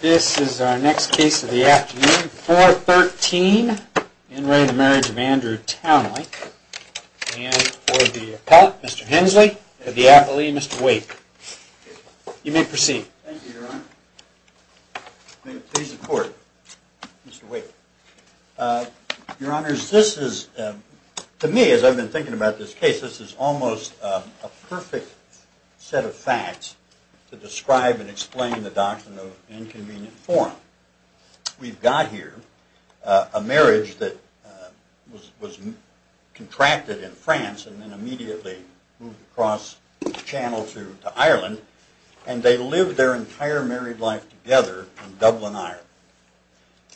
This is our next case of the afternoon, 413, In Re of the Marriage of Andrew Townley, and for the appellate, Mr. Hensley, for the appellee, Mr. Wake. You may proceed. Thank you, Your Honor. May it please the Court, Mr. Wake. Your Honors, this is, to me, as I've been thinking about this case, this is almost a perfect set of facts to describe and explain the doctrine of inconvenient form. We've got here a marriage that was contracted in France and then immediately moved across the channel to Ireland, and they lived their entire married life together in Dublin, Ireland.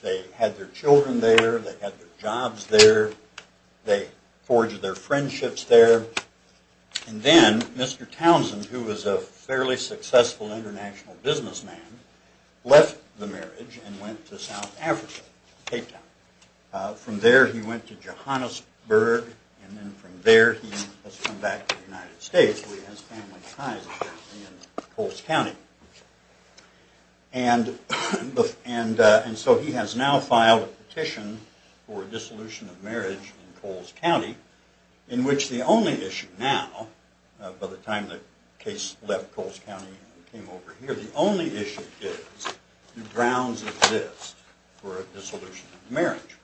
They had their children there, they had their jobs there, they forged their friendships there, and then Mr. Townsend, who was a fairly successful international businessman, left the marriage and went to South Africa, Cape Town. From there he went to Johannesburg, and then from there he has come back to the United States where he has family ties in Coles County. And so he has now filed a petition for a dissolution of marriage in Coles County, in which the only issue now, by the time the case left Coles County and came over here, the only issue is do grounds exist for a dissolution of marriage?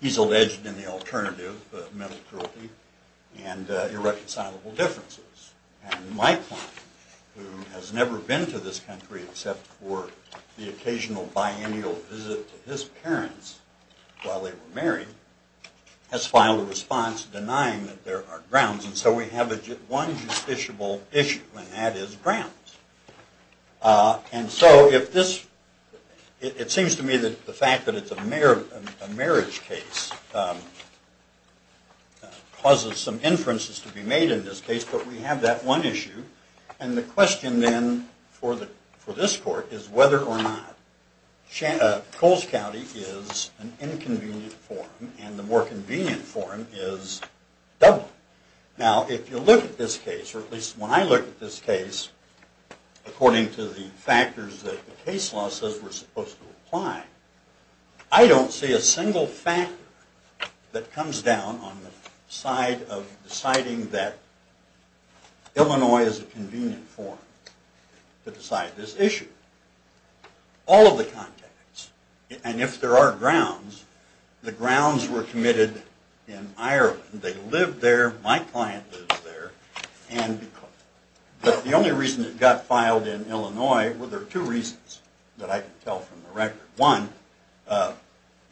He's alleged in the alternative of mental cruelty and irreconcilable differences. And my client, who has never been to this country except for the occasional biennial visit to his parents while they were married, has filed a response denying that there are grounds. And so we have one justiciable issue, and that is grounds. And so it seems to me that the fact that it's a marriage case causes some inferences to be made in this case, but we have that one issue. And the question then for this court is whether or not Coles County is an inconvenient forum, and the more convenient forum is Dublin. Now, if you look at this case, or at least when I look at this case, according to the factors that the case law says we're supposed to apply, I don't see a single factor that comes down on the side of deciding that Illinois is a convenient forum to decide this issue. All of the context, and if there are grounds, the grounds were committed in Ireland. They lived there, my client lives there, and the only reason it got filed in Illinois, well, there are two reasons that I can tell from the record. One,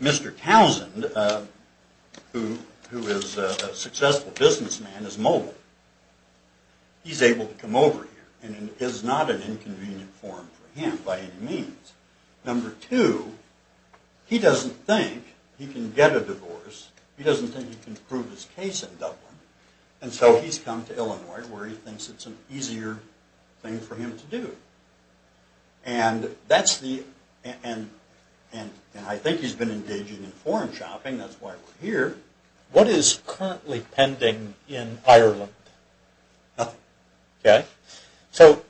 Mr. Towsend, who is a successful businessman, is mobile. He's able to come over here, and it is not an inconvenient forum for him by any means. Number two, he doesn't think he can get a divorce, he doesn't think he can prove his case in Dublin, and so he's come to Illinois where he thinks it's an easier thing for him to do. And that's the, and I think he's been engaging in foreign shopping, that's why we're here. What is currently pending in Ireland? Nothing. Okay. So,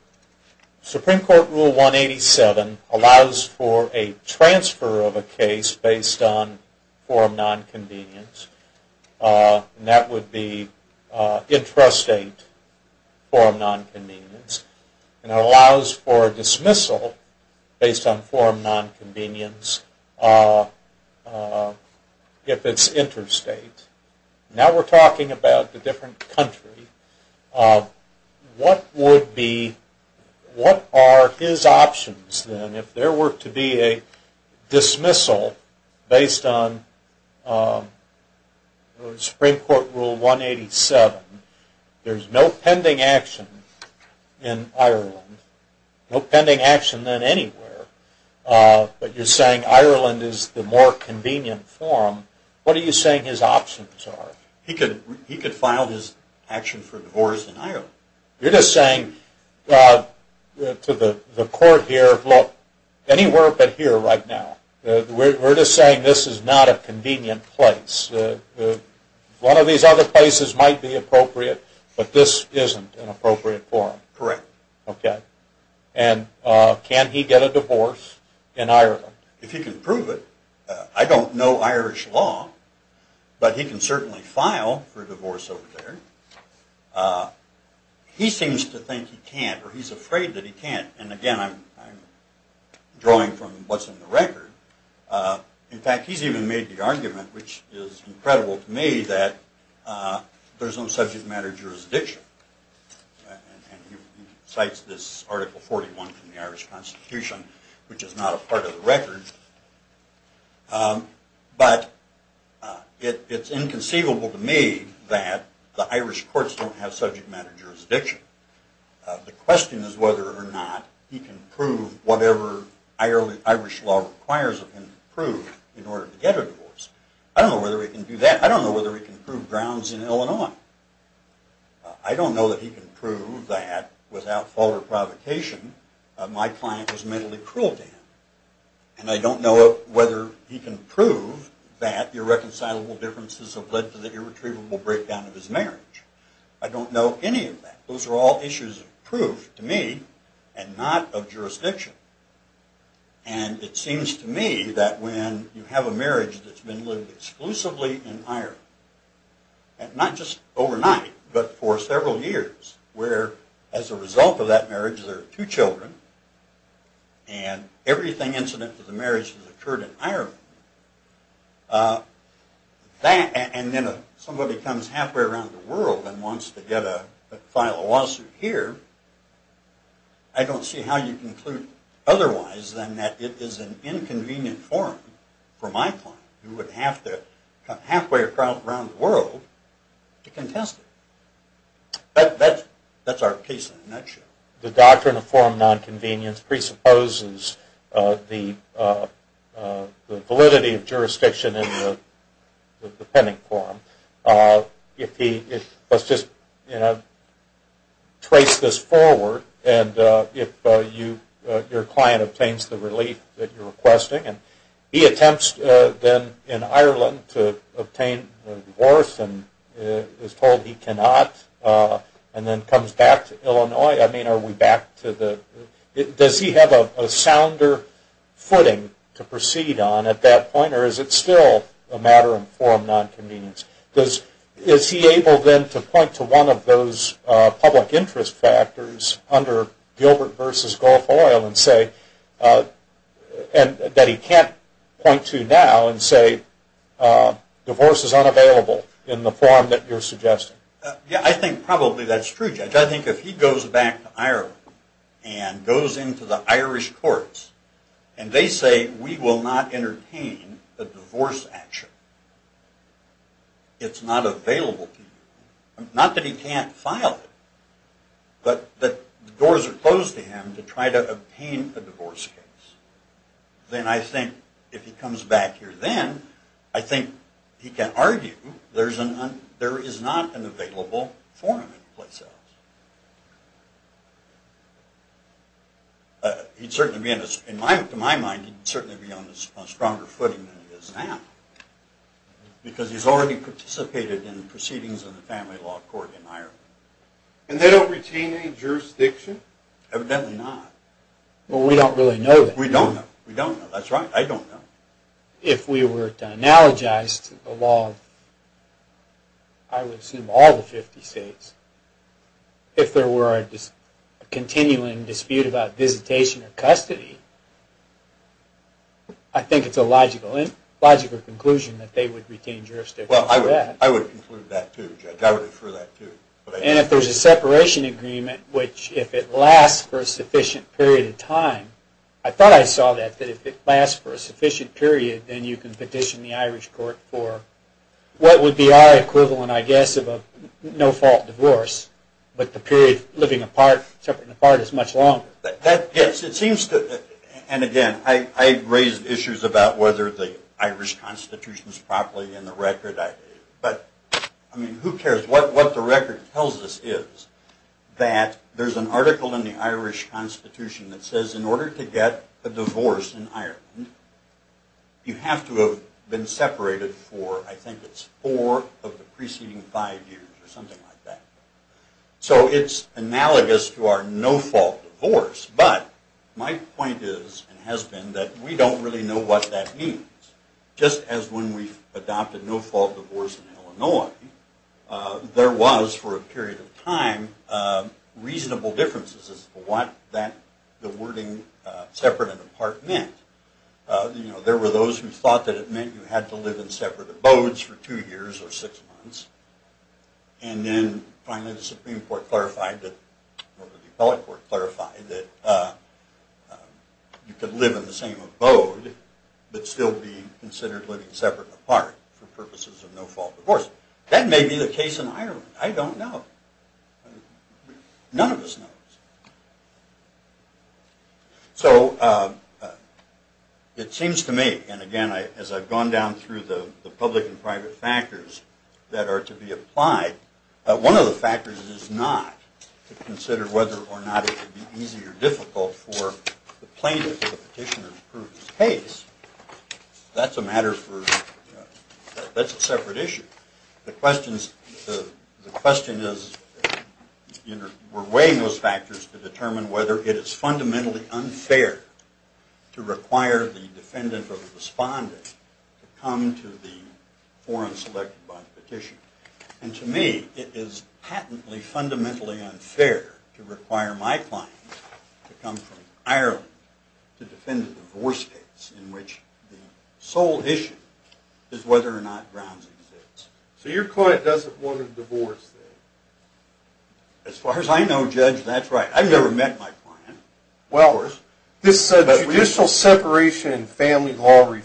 Supreme Court Rule 187 allows for a transfer of a case based on forum nonconvenience, and that would be intrastate forum nonconvenience, and it allows for dismissal based on forum nonconvenience if it's interstate. Now we're talking about a different country. What would be, what are his options then if there were to be a dismissal based on Supreme Court Rule 187? There's no pending action in Ireland, no pending action then anywhere, but you're saying Ireland is the more convenient forum. What are you saying his options are? He could file his action for divorce in Ireland. You're just saying to the court here, look, anywhere but here right now, we're just saying this is not a convenient place. One of these other places might be appropriate, but this isn't an appropriate forum. Correct. Okay. And can he get a divorce in Ireland? If he can prove it, I don't know Irish law, but he can certainly file for divorce over there. He seems to think he can't, or he's afraid that he can't. And again, I'm drawing from what's in the record. In fact, he's even made the argument, which is incredible to me, that there's no subject matter jurisdiction. And he cites this Article 41 from the Irish Constitution, which is not a part of the record. But it's inconceivable to me that the Irish courts don't have subject matter jurisdiction. The question is whether or not he can prove whatever Irish law requires of him to prove in order to get a divorce. I don't know whether he can do that. I don't know whether he can prove grounds in Illinois. I don't know that he can prove that, without fault or provocation, my client was mentally cruel to him. And I don't know whether he can prove that irreconcilable differences have led to the irretrievable breakdown of his marriage. I don't know any of that. Those are all issues of proof to me and not of jurisdiction. And it seems to me that when you have a marriage that's been lived exclusively in Ireland, not just overnight, but for several years, where as a result of that marriage there are two children, and everything incident to the marriage has occurred in Ireland, and then somebody comes halfway around the world and wants to file a lawsuit here, I don't see how you conclude otherwise than that it is an inconvenient forum, for my client, who would have to come halfway around the world to contest it. That's our case in a nutshell. The doctrine of forum non-convenience presupposes the validity of jurisdiction in the pending forum. Let's just trace this forward, and if your client obtains the relief that you're requesting, and he attempts then in Ireland to obtain a divorce and is told he cannot, and then comes back to Illinois, I mean are we back to the... Does he have a sounder footing to proceed on at that point, or is it still a matter of forum non-convenience? Is he able then to point to one of those public interest factors under Gilbert v. Gulf Oil and say that he can't point to now and say divorce is unavailable in the forum that you're suggesting? Yeah, I think probably that's true, Judge. I think if he goes back to Ireland and goes into the Irish courts, and they say we will not entertain a divorce action, it's not available to you. Not that he can't file it, but the doors are closed to him to try to obtain a divorce case. Then I think if he comes back here then, I think he can argue there is not an available forum in place else. He'd certainly be, to my mind, he'd certainly be on a stronger footing than he is now, because he's already participated in the proceedings of the family law court in Ireland. And they don't retain any jurisdiction? Evidently not. Well, we don't really know that. We don't know, that's right, I don't know. If we were to analogize to the law, I would assume all the 50 states, if there were a continuing dispute about visitation or custody, I think it's a logical conclusion that they would retain jurisdiction for that. Well, I would conclude that too, Judge. I would infer that too. And if there's a separation agreement, which if it lasts for a sufficient period of time, I thought I saw that, that if it lasts for a sufficient period, then you can petition the Irish court for what would be our equivalent, I guess, of a no-fault divorce, but the period of living apart, separating apart is much longer. That gets, it seems to, and again, I raise issues about whether the Irish constitution is properly in the record, but, I mean, who cares? What the record tells us is that there's an article in the Irish constitution that says in order to get a divorce in Ireland, you have to have been separated for, I think it's four of the preceding five years, or something like that. So it's analogous to our no-fault divorce, but my point is, and has been, that we don't really know what that means. Just as when we adopted no-fault divorce in Illinois, there was, for a period of time, reasonable differences as to what that, the wording separate and apart meant. You know, there were those who thought that it meant you had to live in separate abodes for two years or six months, and then finally the Supreme Court clarified, or the appellate court clarified, that you could live in the same abode, but still be considered living separate and apart for purposes of no-fault divorce. That may be the case in Ireland. I don't know. None of us knows. So, it seems to me, and again, as I've gone down through the public and private factors that are to be applied, one of the factors is not to consider whether or not it would be easy or difficult for the plaintiff or the petitioner to prove his case. That's a matter for, that's a separate issue. The question is, we're weighing those factors to determine whether it is fundamentally unfair to require the defendant or the respondent to come to the forum selected by the petitioner. And to me, it is patently, fundamentally unfair to require my client to come from Ireland to defend a divorce case in which the sole issue is whether or not Browns exists. So your client doesn't want a divorce then? As far as I know, Judge, that's right. I've never met my client. Well, this judicial separation in family law has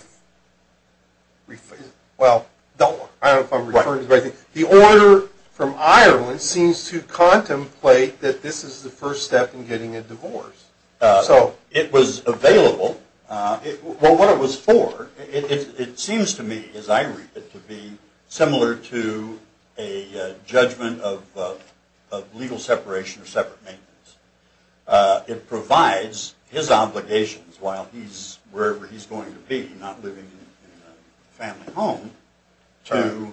been refigured. Well, I don't know if I'm referring to the right thing. The order from Ireland seems to contemplate that this is the first step in getting a divorce. It was available. Well, what it was for, it seems to me, as I read it, to be similar to a judgment of legal separation or separate maintenance. It provides his obligations while he's, wherever he's going to be, not living in a family home, to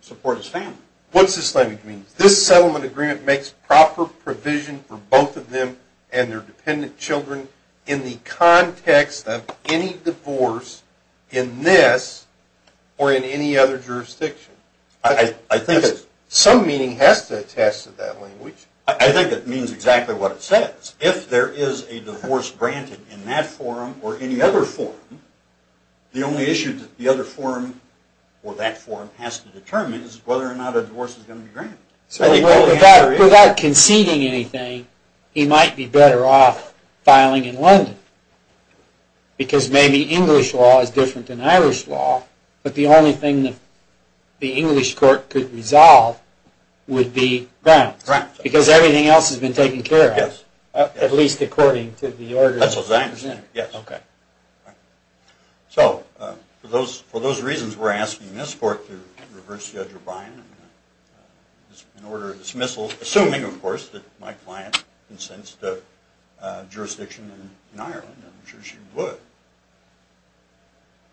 support his family. What's this language mean? This settlement agreement makes proper provision for both of them and their dependent children in the context of any divorce in this or in any other jurisdiction. Some meaning has to attest to that language. I think it means exactly what it says. If there is a divorce granted in that forum or in the other forum, the only issue that the other forum or that forum has to determine is whether or not a divorce is going to be granted. So without conceding anything, he might be better off filing in London. Because maybe English law is different than Irish law, but the only thing that the English court could resolve would be grounds. Because everything else has been taken care of. Yes. At least according to the order. That's what I understand, yes. Okay. So, for those reasons, we're asking this court to reverse Judge O'Brien in order of dismissal, assuming, of course, that my client consents to jurisdiction in Ireland. I'm sure she would.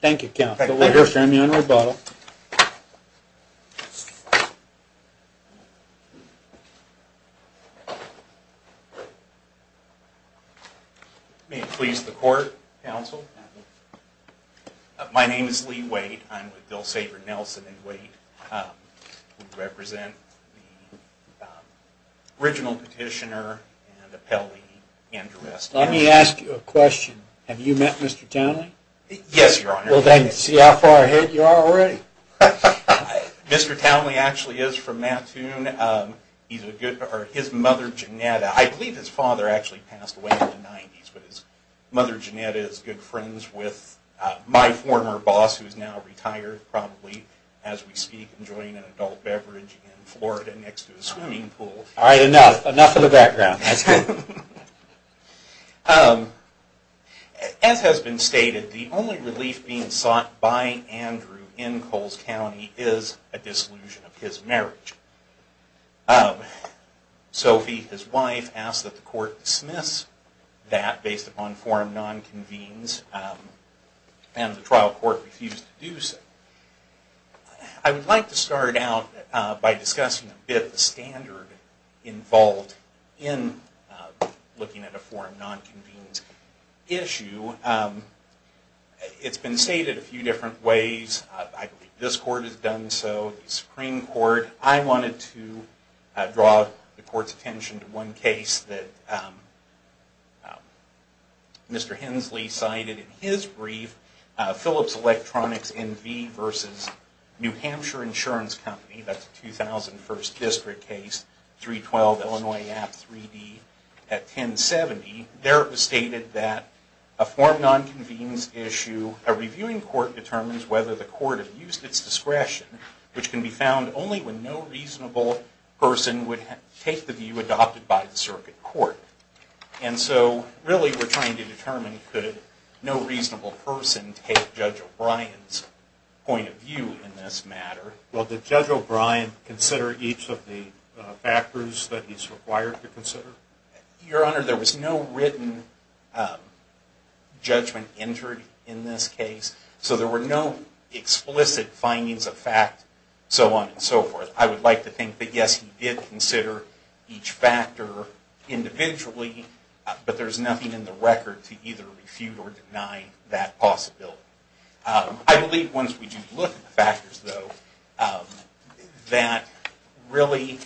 Thank you, counsel. We'll hear from you in rebuttal. May it please the court, counsel. My name is Lee Waite. I'm with Dilsever Nelson & Waite. I represent the original petitioner and appellee, Andrew West. Let me ask you a question. Have you met Mr. Townley? Yes, Your Honor. Well, then, see how far ahead you are already. Mr. Townley actually is from Mattoon. He's a good... or his mother, Janetta... I believe his father actually passed away in the 90s, but his mother, Janetta, is good friends with my former boss, who is now retired probably, as we speak, enjoying an adult beverage in Florida next to a swimming pool. All right, enough. Enough of the background. As has been stated, the only relief being sought by Andrew in Coles County is a disillusion of his marriage. Sophie, his wife, asked that the court dismiss that based upon forum non-convenes, and the trial court refused to do so. I would like to start out by discussing a bit the standard involved in looking at a forum non-convenes issue. It's been stated a few different ways. I believe this court has done so, the Supreme Court. However, I wanted to draw the court's attention to one case that Mr. Hensley cited in his brief, Phillips Electronics, N.V. versus New Hampshire Insurance Company, that's a 2001st district case, 312 Illinois Ave, 3D, at 1070. There it was stated that a forum non-convenes issue, a reviewing court determines whether the court abused its discretion, which can be found only when no reasonable person would take the view adopted by the circuit court. And so, really, we're trying to determine could no reasonable person take Judge O'Brien's point of view in this matter. Well, did Judge O'Brien consider each of the factors that he's required to consider? Your Honor, there was no written judgment entered in this case, so there were no facts, so on and so forth. I would like to think that, yes, he did consider each factor individually, but there's nothing in the record to either refute or deny that possibility. I believe once we do look at the factors, though, that, really,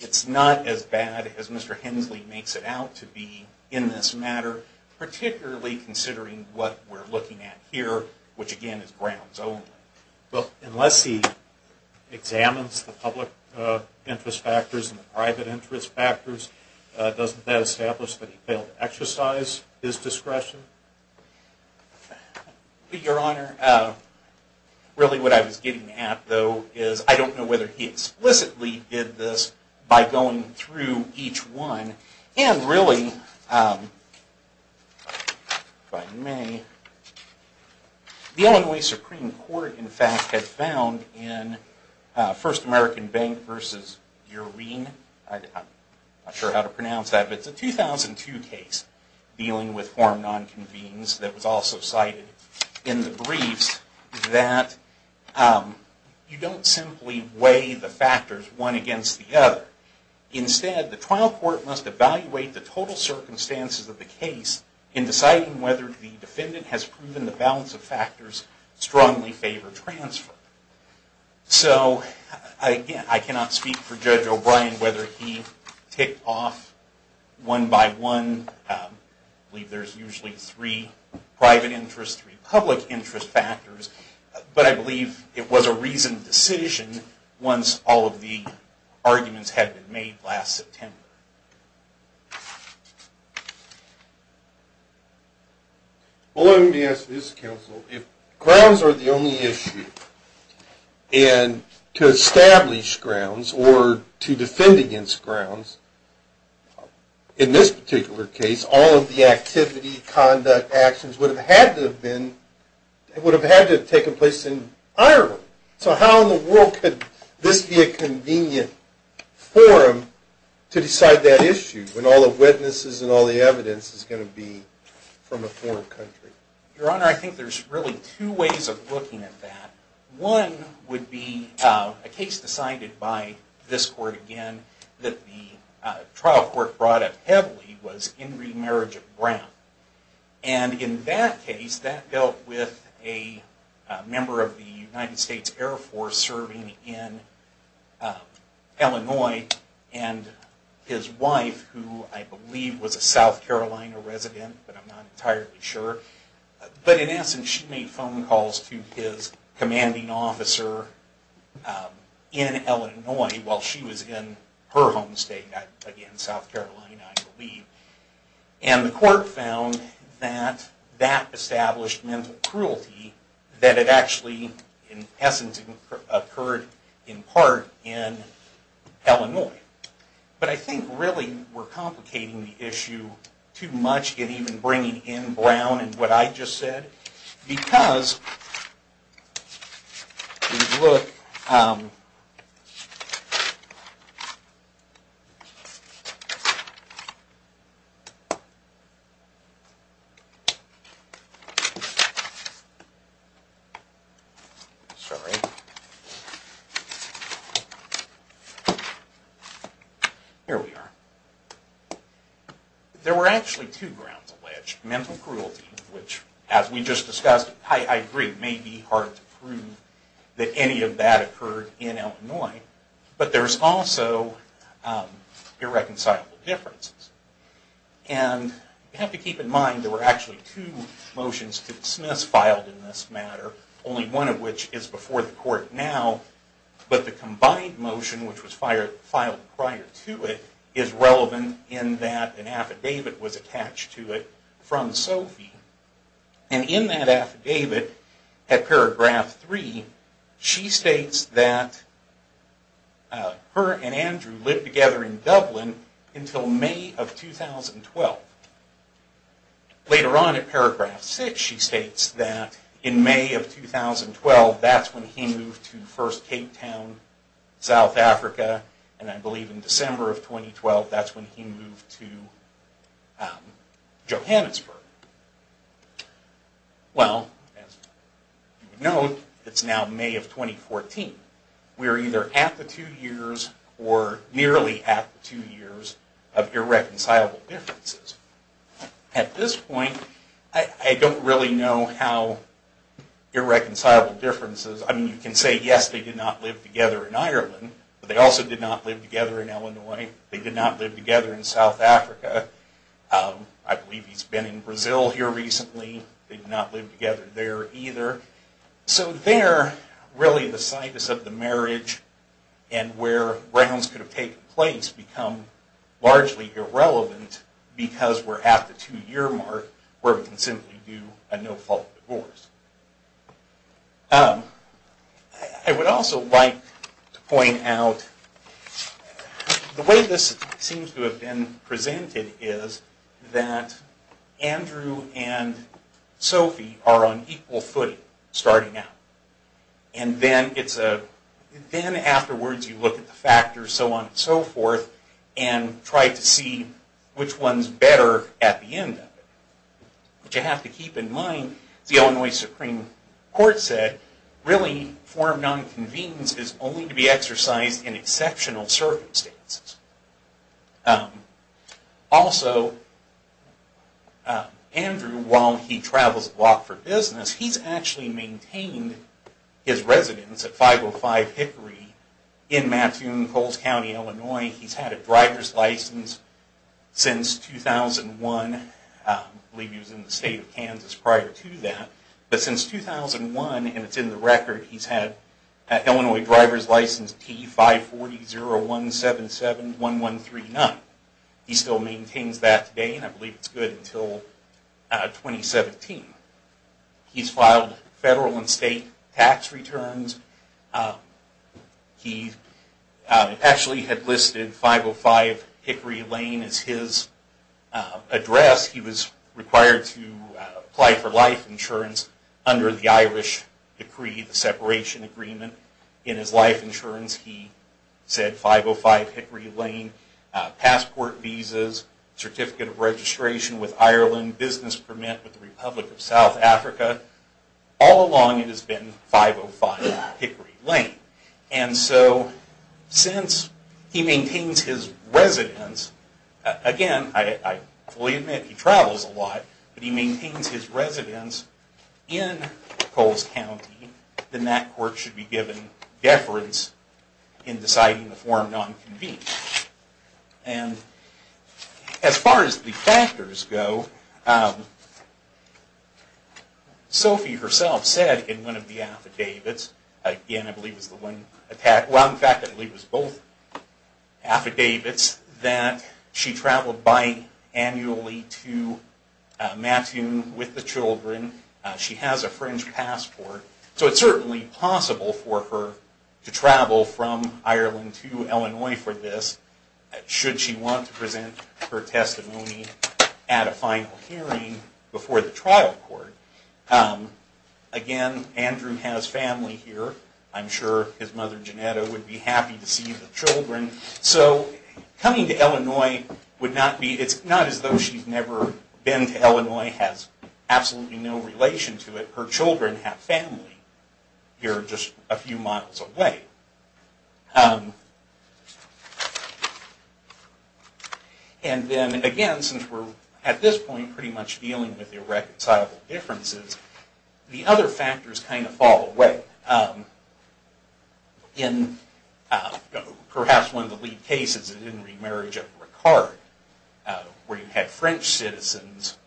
it's not as bad as Mr. Hensley makes it out to be in this matter, particularly considering what we're looking at here, where he examines the public interest factors and the private interest factors. Doesn't that establish that he failed to exercise his discretion? Your Honor, really what I was getting at, though, is I don't know whether he explicitly did this by going through each one. And, really, if I may, the Illinois Supreme Court, in fact, has found in First American Bank v. Urene, I'm not sure how to pronounce that, but it's a 2002 case dealing with form nonconvenes that was also cited in the briefs, that you don't simply weigh the factors one against the other. Instead, the trial court must evaluate the total circumstances of the case in deciding whether the defendant should be acquitted or transferred. So, again, I cannot speak for Judge O'Brien whether he ticked off one by one. I believe there's usually three private interest, three public interest factors, but I believe it was a reasoned decision once all of the arguments had been made last September. Well, let me ask this, counsel. If grounds are the only issue, and to establish grounds, or to defend against grounds, in this particular case, all of the activity, conduct, actions would have had to have been, would have had to have taken place in Ireland. So how in the world could this be a convenient forum to decide that issue when all the witnesses and all the evidence is going to be from a foreign country? Your Honor, I think there's really two ways of looking at that. One would be a case decided by this court again that the trial court brought up heavily was Ingrid Mariget Brown. And in that case, that dealt with a member of the United States Air Force serving in Illinois and his wife, who I believe was a South Carolina resident, but I'm not entirely sure. But in essence, she made phone calls to his commanding officer in Illinois while she was in her home state, again, South Carolina I believe. And the court found that that established mental cruelty that had actually in essence occurred in part in Illinois. But I think really we're complicating the issue too much and even bringing in Brown and what I just said because if you look... Here we are. There were actually two grounds alleged. Mental cruelty, which as we just discussed, I agree, may be hard to prove that any of that occurred in Illinois, but there's also irreconcilable differences. And you have to keep in mind there were actually two motions to dismiss filed in this matter, only one of which is before the court now, but the combined motion which was filed prior to it is relevant in that an affidavit was attached to it from Sophie. And in that affidavit, at paragraph three, she states that her and Andrew lived together in Dublin until May of 2012. Later on at paragraph six she states that in May of 2012 that's when he moved to first Cape Town, South Africa, and I believe in December of 2012 that's when he moved to Johannesburg. Well, as you know, it's now May of 2014. We're either at the two years or nearly at the two years of irreconcilable differences. At this point, I don't really know what irreconcilable differences. I mean, you can say, yes, they did not live together in Ireland, but they also did not live together in Illinois. They did not live together in South Africa. I believe he's been in Brazil here recently. They did not live together there either. So there, really the site of the marriage and where rounds could have taken place become largely irrelevant because we're at the two-year mark where we can simply do a no-fault divorce. I would also like to point out the way this seems to have been presented is that Andrew and Sophie are on equal footing starting out. And then afterwards you look at the factors so on and so forth and try to see which one's better at the end of it. But you have to keep in mind the Illinois Supreme Court said really form of nonconvenience is only to be exercised in exceptional circumstances. Also, Andrew, while he travels a lot for business, he's actually maintained in Mattoon, Coles County, Illinois. He's had a driver's license since 2001. I believe he was in the state of Kansas prior to that. But since 2001, and it's in the record, he's had an Illinois driver's license T-540-0177-1139. He still maintains that today and I believe it's good until 2017. He's filed federal and state tax returns. He actually had listed 505 Hickory Lane as his address. He was required to apply for life insurance under the Irish decree, the separation agreement. In his life insurance, he said 505 Hickory Lane, passport, visas, certificate of registration with Ireland, business permit with the Republic of South Africa. All along it has been 505 Hickory Lane. And so, since he maintains his residence, again, I fully admit he travels a lot, but he maintains his residence in Coles County, then that court should be given deference in deciding the form non-convened. And as far as the factors go, Sophie herself said in her affidavits, again, I believe it was both affidavits, that she traveled bi-annually to Mattoon with the children. She has a French passport. So it's certainly possible for her to travel from Ireland to Illinois for this should she want to present her testimony at a final hearing before the trial court. Again, she has family here. I'm sure his mother, Janetta, would be happy to see the children. So coming to Illinois would not be, it's not as though she's never been to Illinois, has absolutely no relation to it. Her children have family here just a few miles away. And then, again, since we're at this point pretty much dealing with irreconcilable differences, the other factors kind of fall away. In perhaps one of the lead cases in the remarriage of Ricard, where you had French citizens,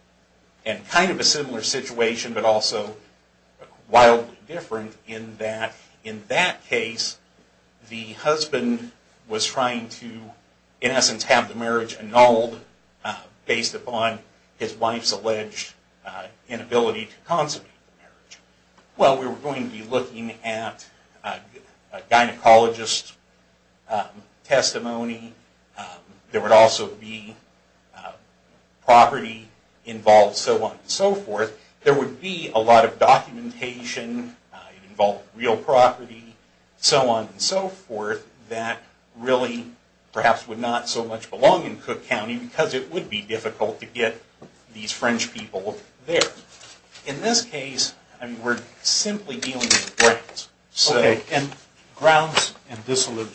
and kind of a similar situation but also wildly different in that in that case, the husband was trying to in essence have the marriage annulled based upon his wife's alleged inability to consummate the marriage. Well, we were going to be looking at gynecologist testimony. There would also be property involved, so on and so forth. There would be a lot of documentation involved, real property, so on and so forth that really perhaps would not so much belong in Cook County because it would be difficult to get these French people there. In this case, we're simply dealing with grounds. Okay. And grounds and disillusion.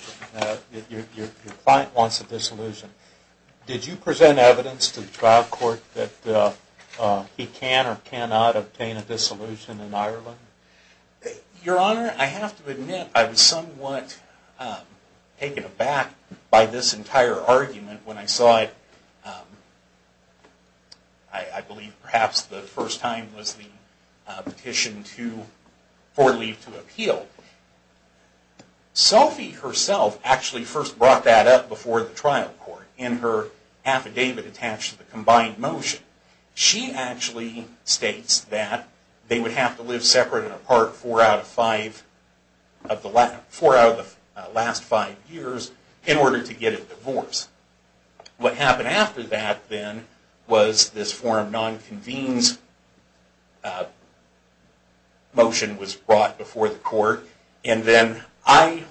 Your client wants a disillusion. Did you present evidence to the trial court that he can or cannot obtain a disillusion in Ireland? Your Honor, I have to admit I was somewhat taken aback by this entire argument when I saw it I believe perhaps the first time was the petition to for leave to appeal. Sophie herself actually first brought that up before the trial court in her affidavit attached to the combined motion. She actually states that they would have to live separate and apart four out of five of the last four out of the last five years in order to get a divorce. What happened after that then was this forum non-convenes motion was brought before the court and then I,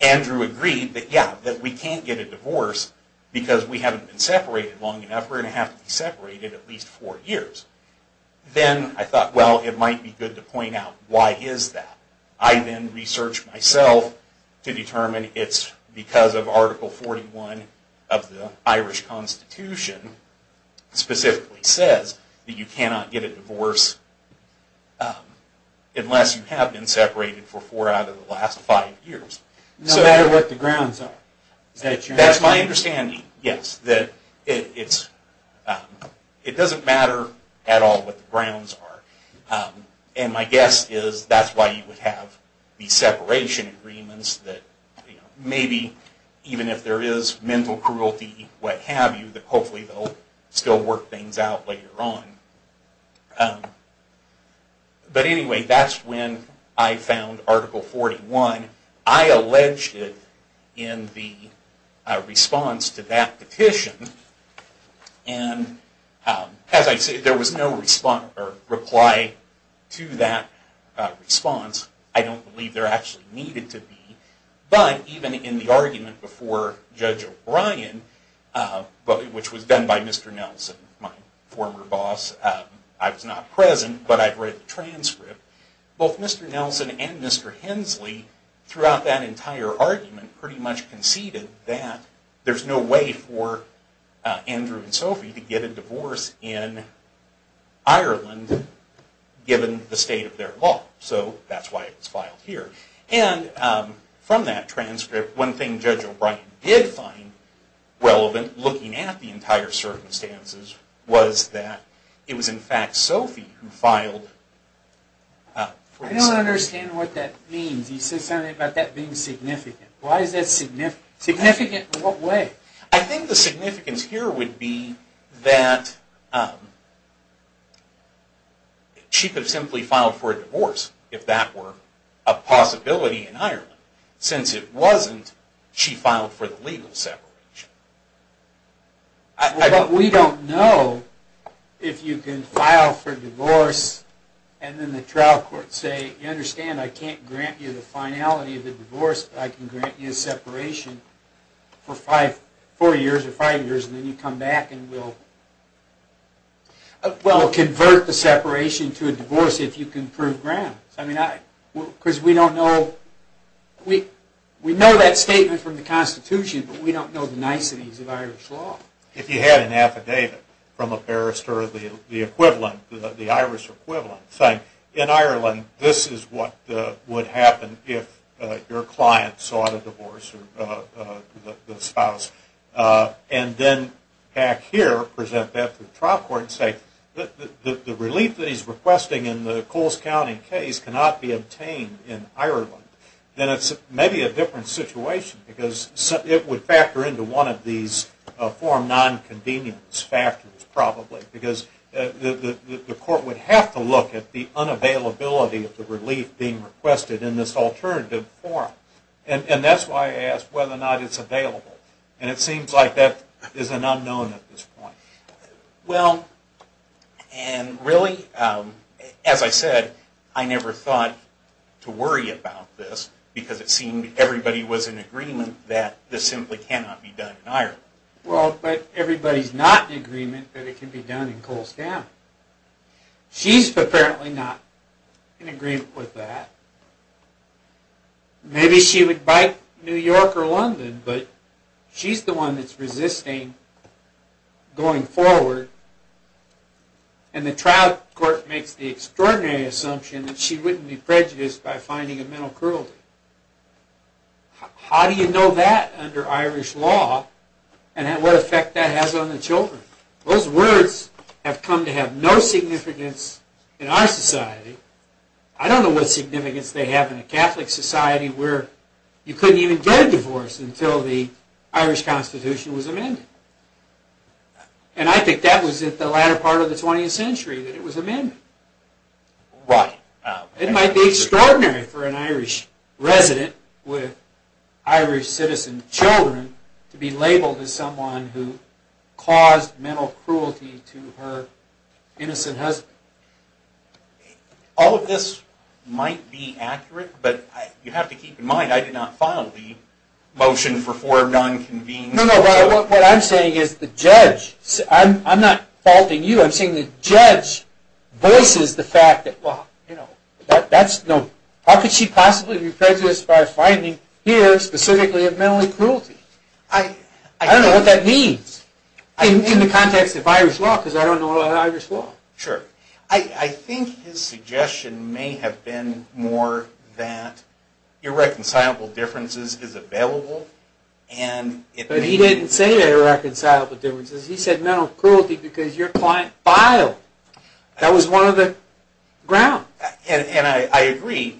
Andrew agreed that yeah, that we can't get a divorce because we haven't been separated long enough. We're going to have to be separated at least four years. Then I thought well it might be good to point out why is that. I then researched myself to determine it's because of Article 41 of the Irish Constitution specifically says that you cannot get a divorce unless you have been separated for four out of the last five years. No matter what the grounds are. That's my understanding, yes, that it doesn't matter at all what the grounds are. And my guess is that's why you would have the separation agreements that maybe even if there is mental cruelty, what have you, that hopefully they'll still work things out later on. But anyway, that's when I found Article 41. I alleged it in the response to that petition and as I did not reply to that response, I don't believe there actually needed to be, but even in the argument before Judge O'Brien, which was done by Mr. Nelson, my former boss, I was not present, but I'd read the transcript, both Mr. Nelson and Mr. Hensley throughout that entire argument pretty much conceded that there's no way for the state of their law. So that's why it was filed here. And from that transcript, one thing Judge O'Brien did find relevant looking at the entire circumstances was that it was in fact Sophie who filed... I don't understand what that means. You said something about that being significant. Why is that significant? Significant in what way? I think the answer is that she could have simply filed for a divorce if that were a possibility in Ireland. Since it wasn't, she filed for the legal separation. But we don't know if you can file for divorce and then the trial court say, you understand I can't grant you the finality of the divorce, but I can convert the separation to a divorce if you can prove grounds. Because we don't know, we know that statement from the Constitution, but we don't know the niceties of Irish law. If you had an affidavit from a barrister, the Irish equivalent, saying, in Ireland this is what would happen if your client sought a divorce to the spouse, and then back here present that to the trial court and say the relief that he's requesting in the Coles County case cannot be obtained in Ireland, then it's maybe a different situation because it would factor into one of these form nonconvenience factors probably because the court would have to look at the unavailability of the claim. And it seems like that is an unknown at this point. Well, and really, as I said, I never thought to worry about this because it seemed everybody was in agreement that this simply cannot be done in Ireland. Well, but everybody's not in agreement that it can be done in Coles County. She's apparently not in agreement with that. Maybe she would bite New York or London, but she's the one that's resisting going forward. And the trial court makes the extraordinary assumption that she wouldn't be prejudiced by finding a mental cruelty. How do you know that under Irish law and what effect that has on the children? Those words have come to because they have no significance in our society. I don't know what significance they have in a Catholic society where you couldn't even get a divorce until the Irish Constitution was amended. And I think that was in the latter part of the 20th century that it was amended. It might be extraordinary for an Irish resident with Irish citizen children to be labeled as someone who doesn't have an innocent husband. All of this might be accurate, but you have to keep in mind I did not file the motion for four of non-convened cases. No, no, what I'm saying is the judge voices the fact that how could she possibly be prejudiced by finding here specifically a mental cruelty? I don't know what that is, but I think his suggestion may have been more that irreconcilable differences is available. But he didn't say irreconcilable differences. He said mental cruelty because your client filed. That was one of the grounds. And I agree,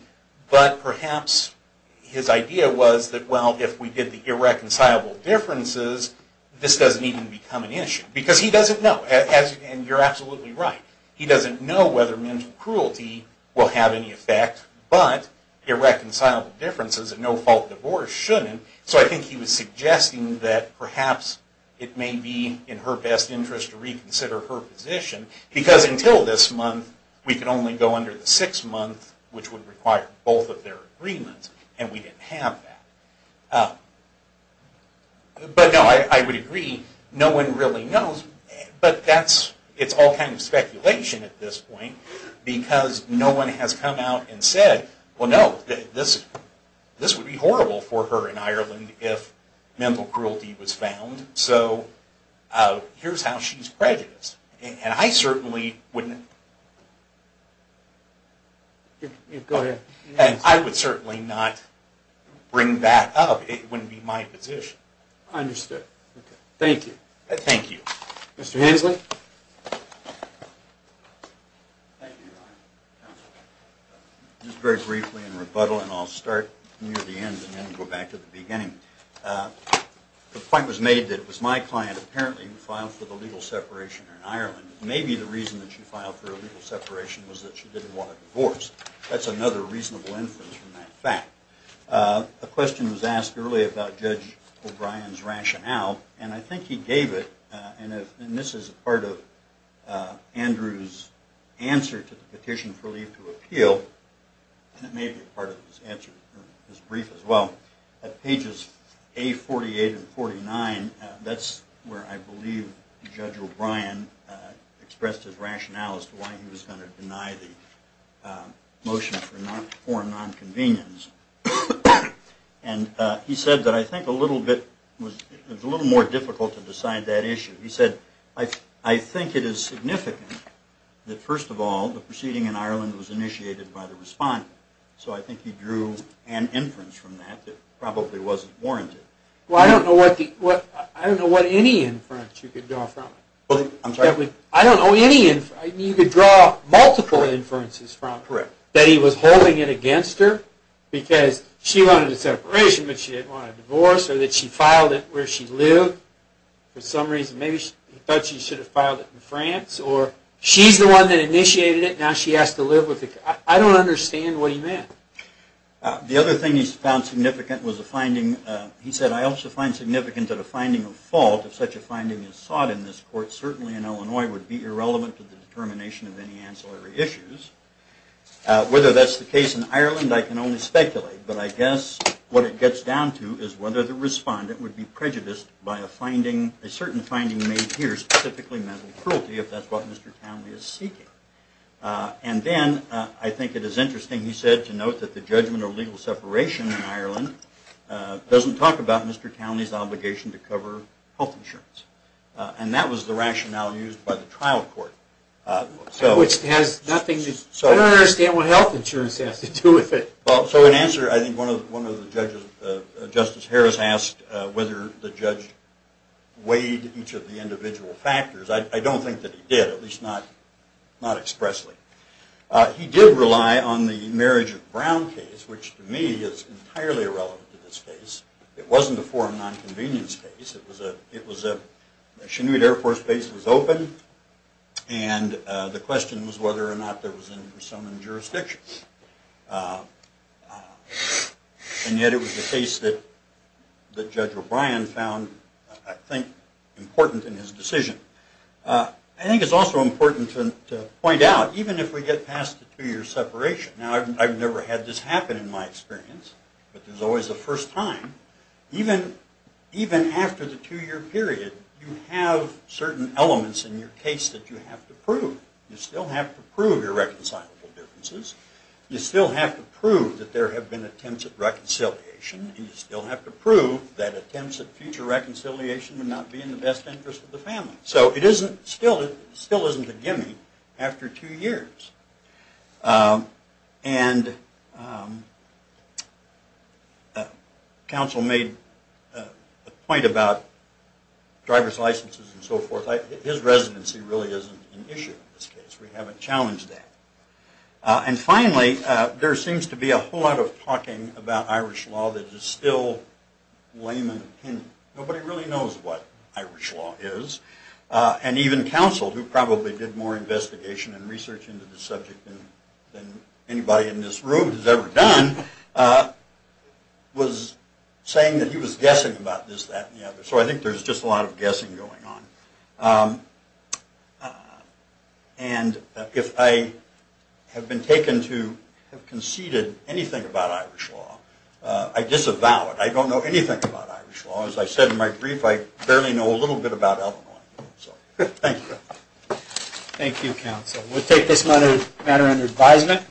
but perhaps his idea was that if we did the irreconcilable differences, this doesn't even become an issue. Because he doesn't know, and you're absolutely right, he doesn't know whether mental cruelty will have any effect, but irreconcilable differences and no-fault divorce shouldn't. So I think he was suggesting that perhaps it may be in her best interest to reconsider her position because until this month we could only go under the six-month which would require both of their agreements, and we didn't have that. But no, I would agree, no one really knows, but it's all kind of speculation at this point because no one has come out and said, well no, this would be horrible for her in Ireland if mental cruelty was found, so here's how she's prejudiced. And I would certainly not bring that up. It wouldn't be my position. I understand. Thank you. Thank you. Mr. Hensley? Just very briefly in rebuttal, and I'll start near the end and then go back to the beginning. The point was made that it was my client apparently who filed for the legal separation in Ireland. Maybe the reason that she filed for a legal separation was that she didn't want a divorce. That's another reasonable inference from that fact. A question was asked earlier about Judge O'Brien's rationale, and I think he gave it, and this is part of Andrew's answer to the petition for leave to appeal, and it may be part of his brief as well. At pages A48 and 49, that's where I believe Judge O'Brien expressed his rationale as to why he was going to deny the motion for nonconvenience. And he said that I think it was a little more difficult to decide that issue. He said, I think it is significant that first of all, the proceeding in Ireland was initiated by the respondent, so I think he drew an inference from that that probably wasn't warranted. Well, I don't know what any inference you could draw from. I don't know any inference. You could draw multiple inferences from that he was holding it against her because she wanted a separation but she didn't want a divorce or that she filed it where she lived for some reason. Maybe he thought she should have filed it in France or she's the one that initiated it now she has to live with it. I don't understand what he meant. The other thing he found significant was a finding, he said, I also find significant that a finding of fault, if such a finding is sought in this court, certainly in Illinois would be irrelevant to the determination of any ancillary issues. Whether that's the case in elsewhere, it's interesting he said the judgment of legal separation in Ireland doesn't talk about Mr. Townley's obligation to cover health insurance. That was the rationale used by the trial court. I don't understand what health insurance has to do with it. Justice Harris asked whether the judge weighed each of the individual factors. I don't think that he did, at least not expressly. He did rely on the marriage of Brown case, which to me is entirely irrelevant to this case. It wasn't a foreign nonconvenience case. It was a Chinoot Air Force base that was open, and the question was whether or not there was some jurisdiction. And yet it was a case that Judge O'Brien found, I think, important in his decision. I think it's also important to point out, even if we get past the two-year separation, now I've never had this happen in my experience, but there's always a first time, even after the two-year period, you have certain rights to prove irreconcilable differences. You still have to prove that there have been attempts at reconciliation, and you still have to prove that attempts at future reconciliation would not be in the best interest of the family. So it still isn't a gimme after two years. And counsel made a comment about driver's licenses and so forth. His residency really isn't an issue in this case. We haven't challenged that. And finally, there seems to be a whole lot of talking about Irish law that is still lame in opinion. Nobody really knows what Irish law is, and even counsel, who probably did more Irish law, I think there is just a lot of guessing going on. And if I have been taken to have conceded anything about Irish law, I disavow it. I don't know anything about Irish law. As I said in my brief, I barely know a little bit about Illinois. Thank you. Thank you, counsel. We'll take this matter under advisement.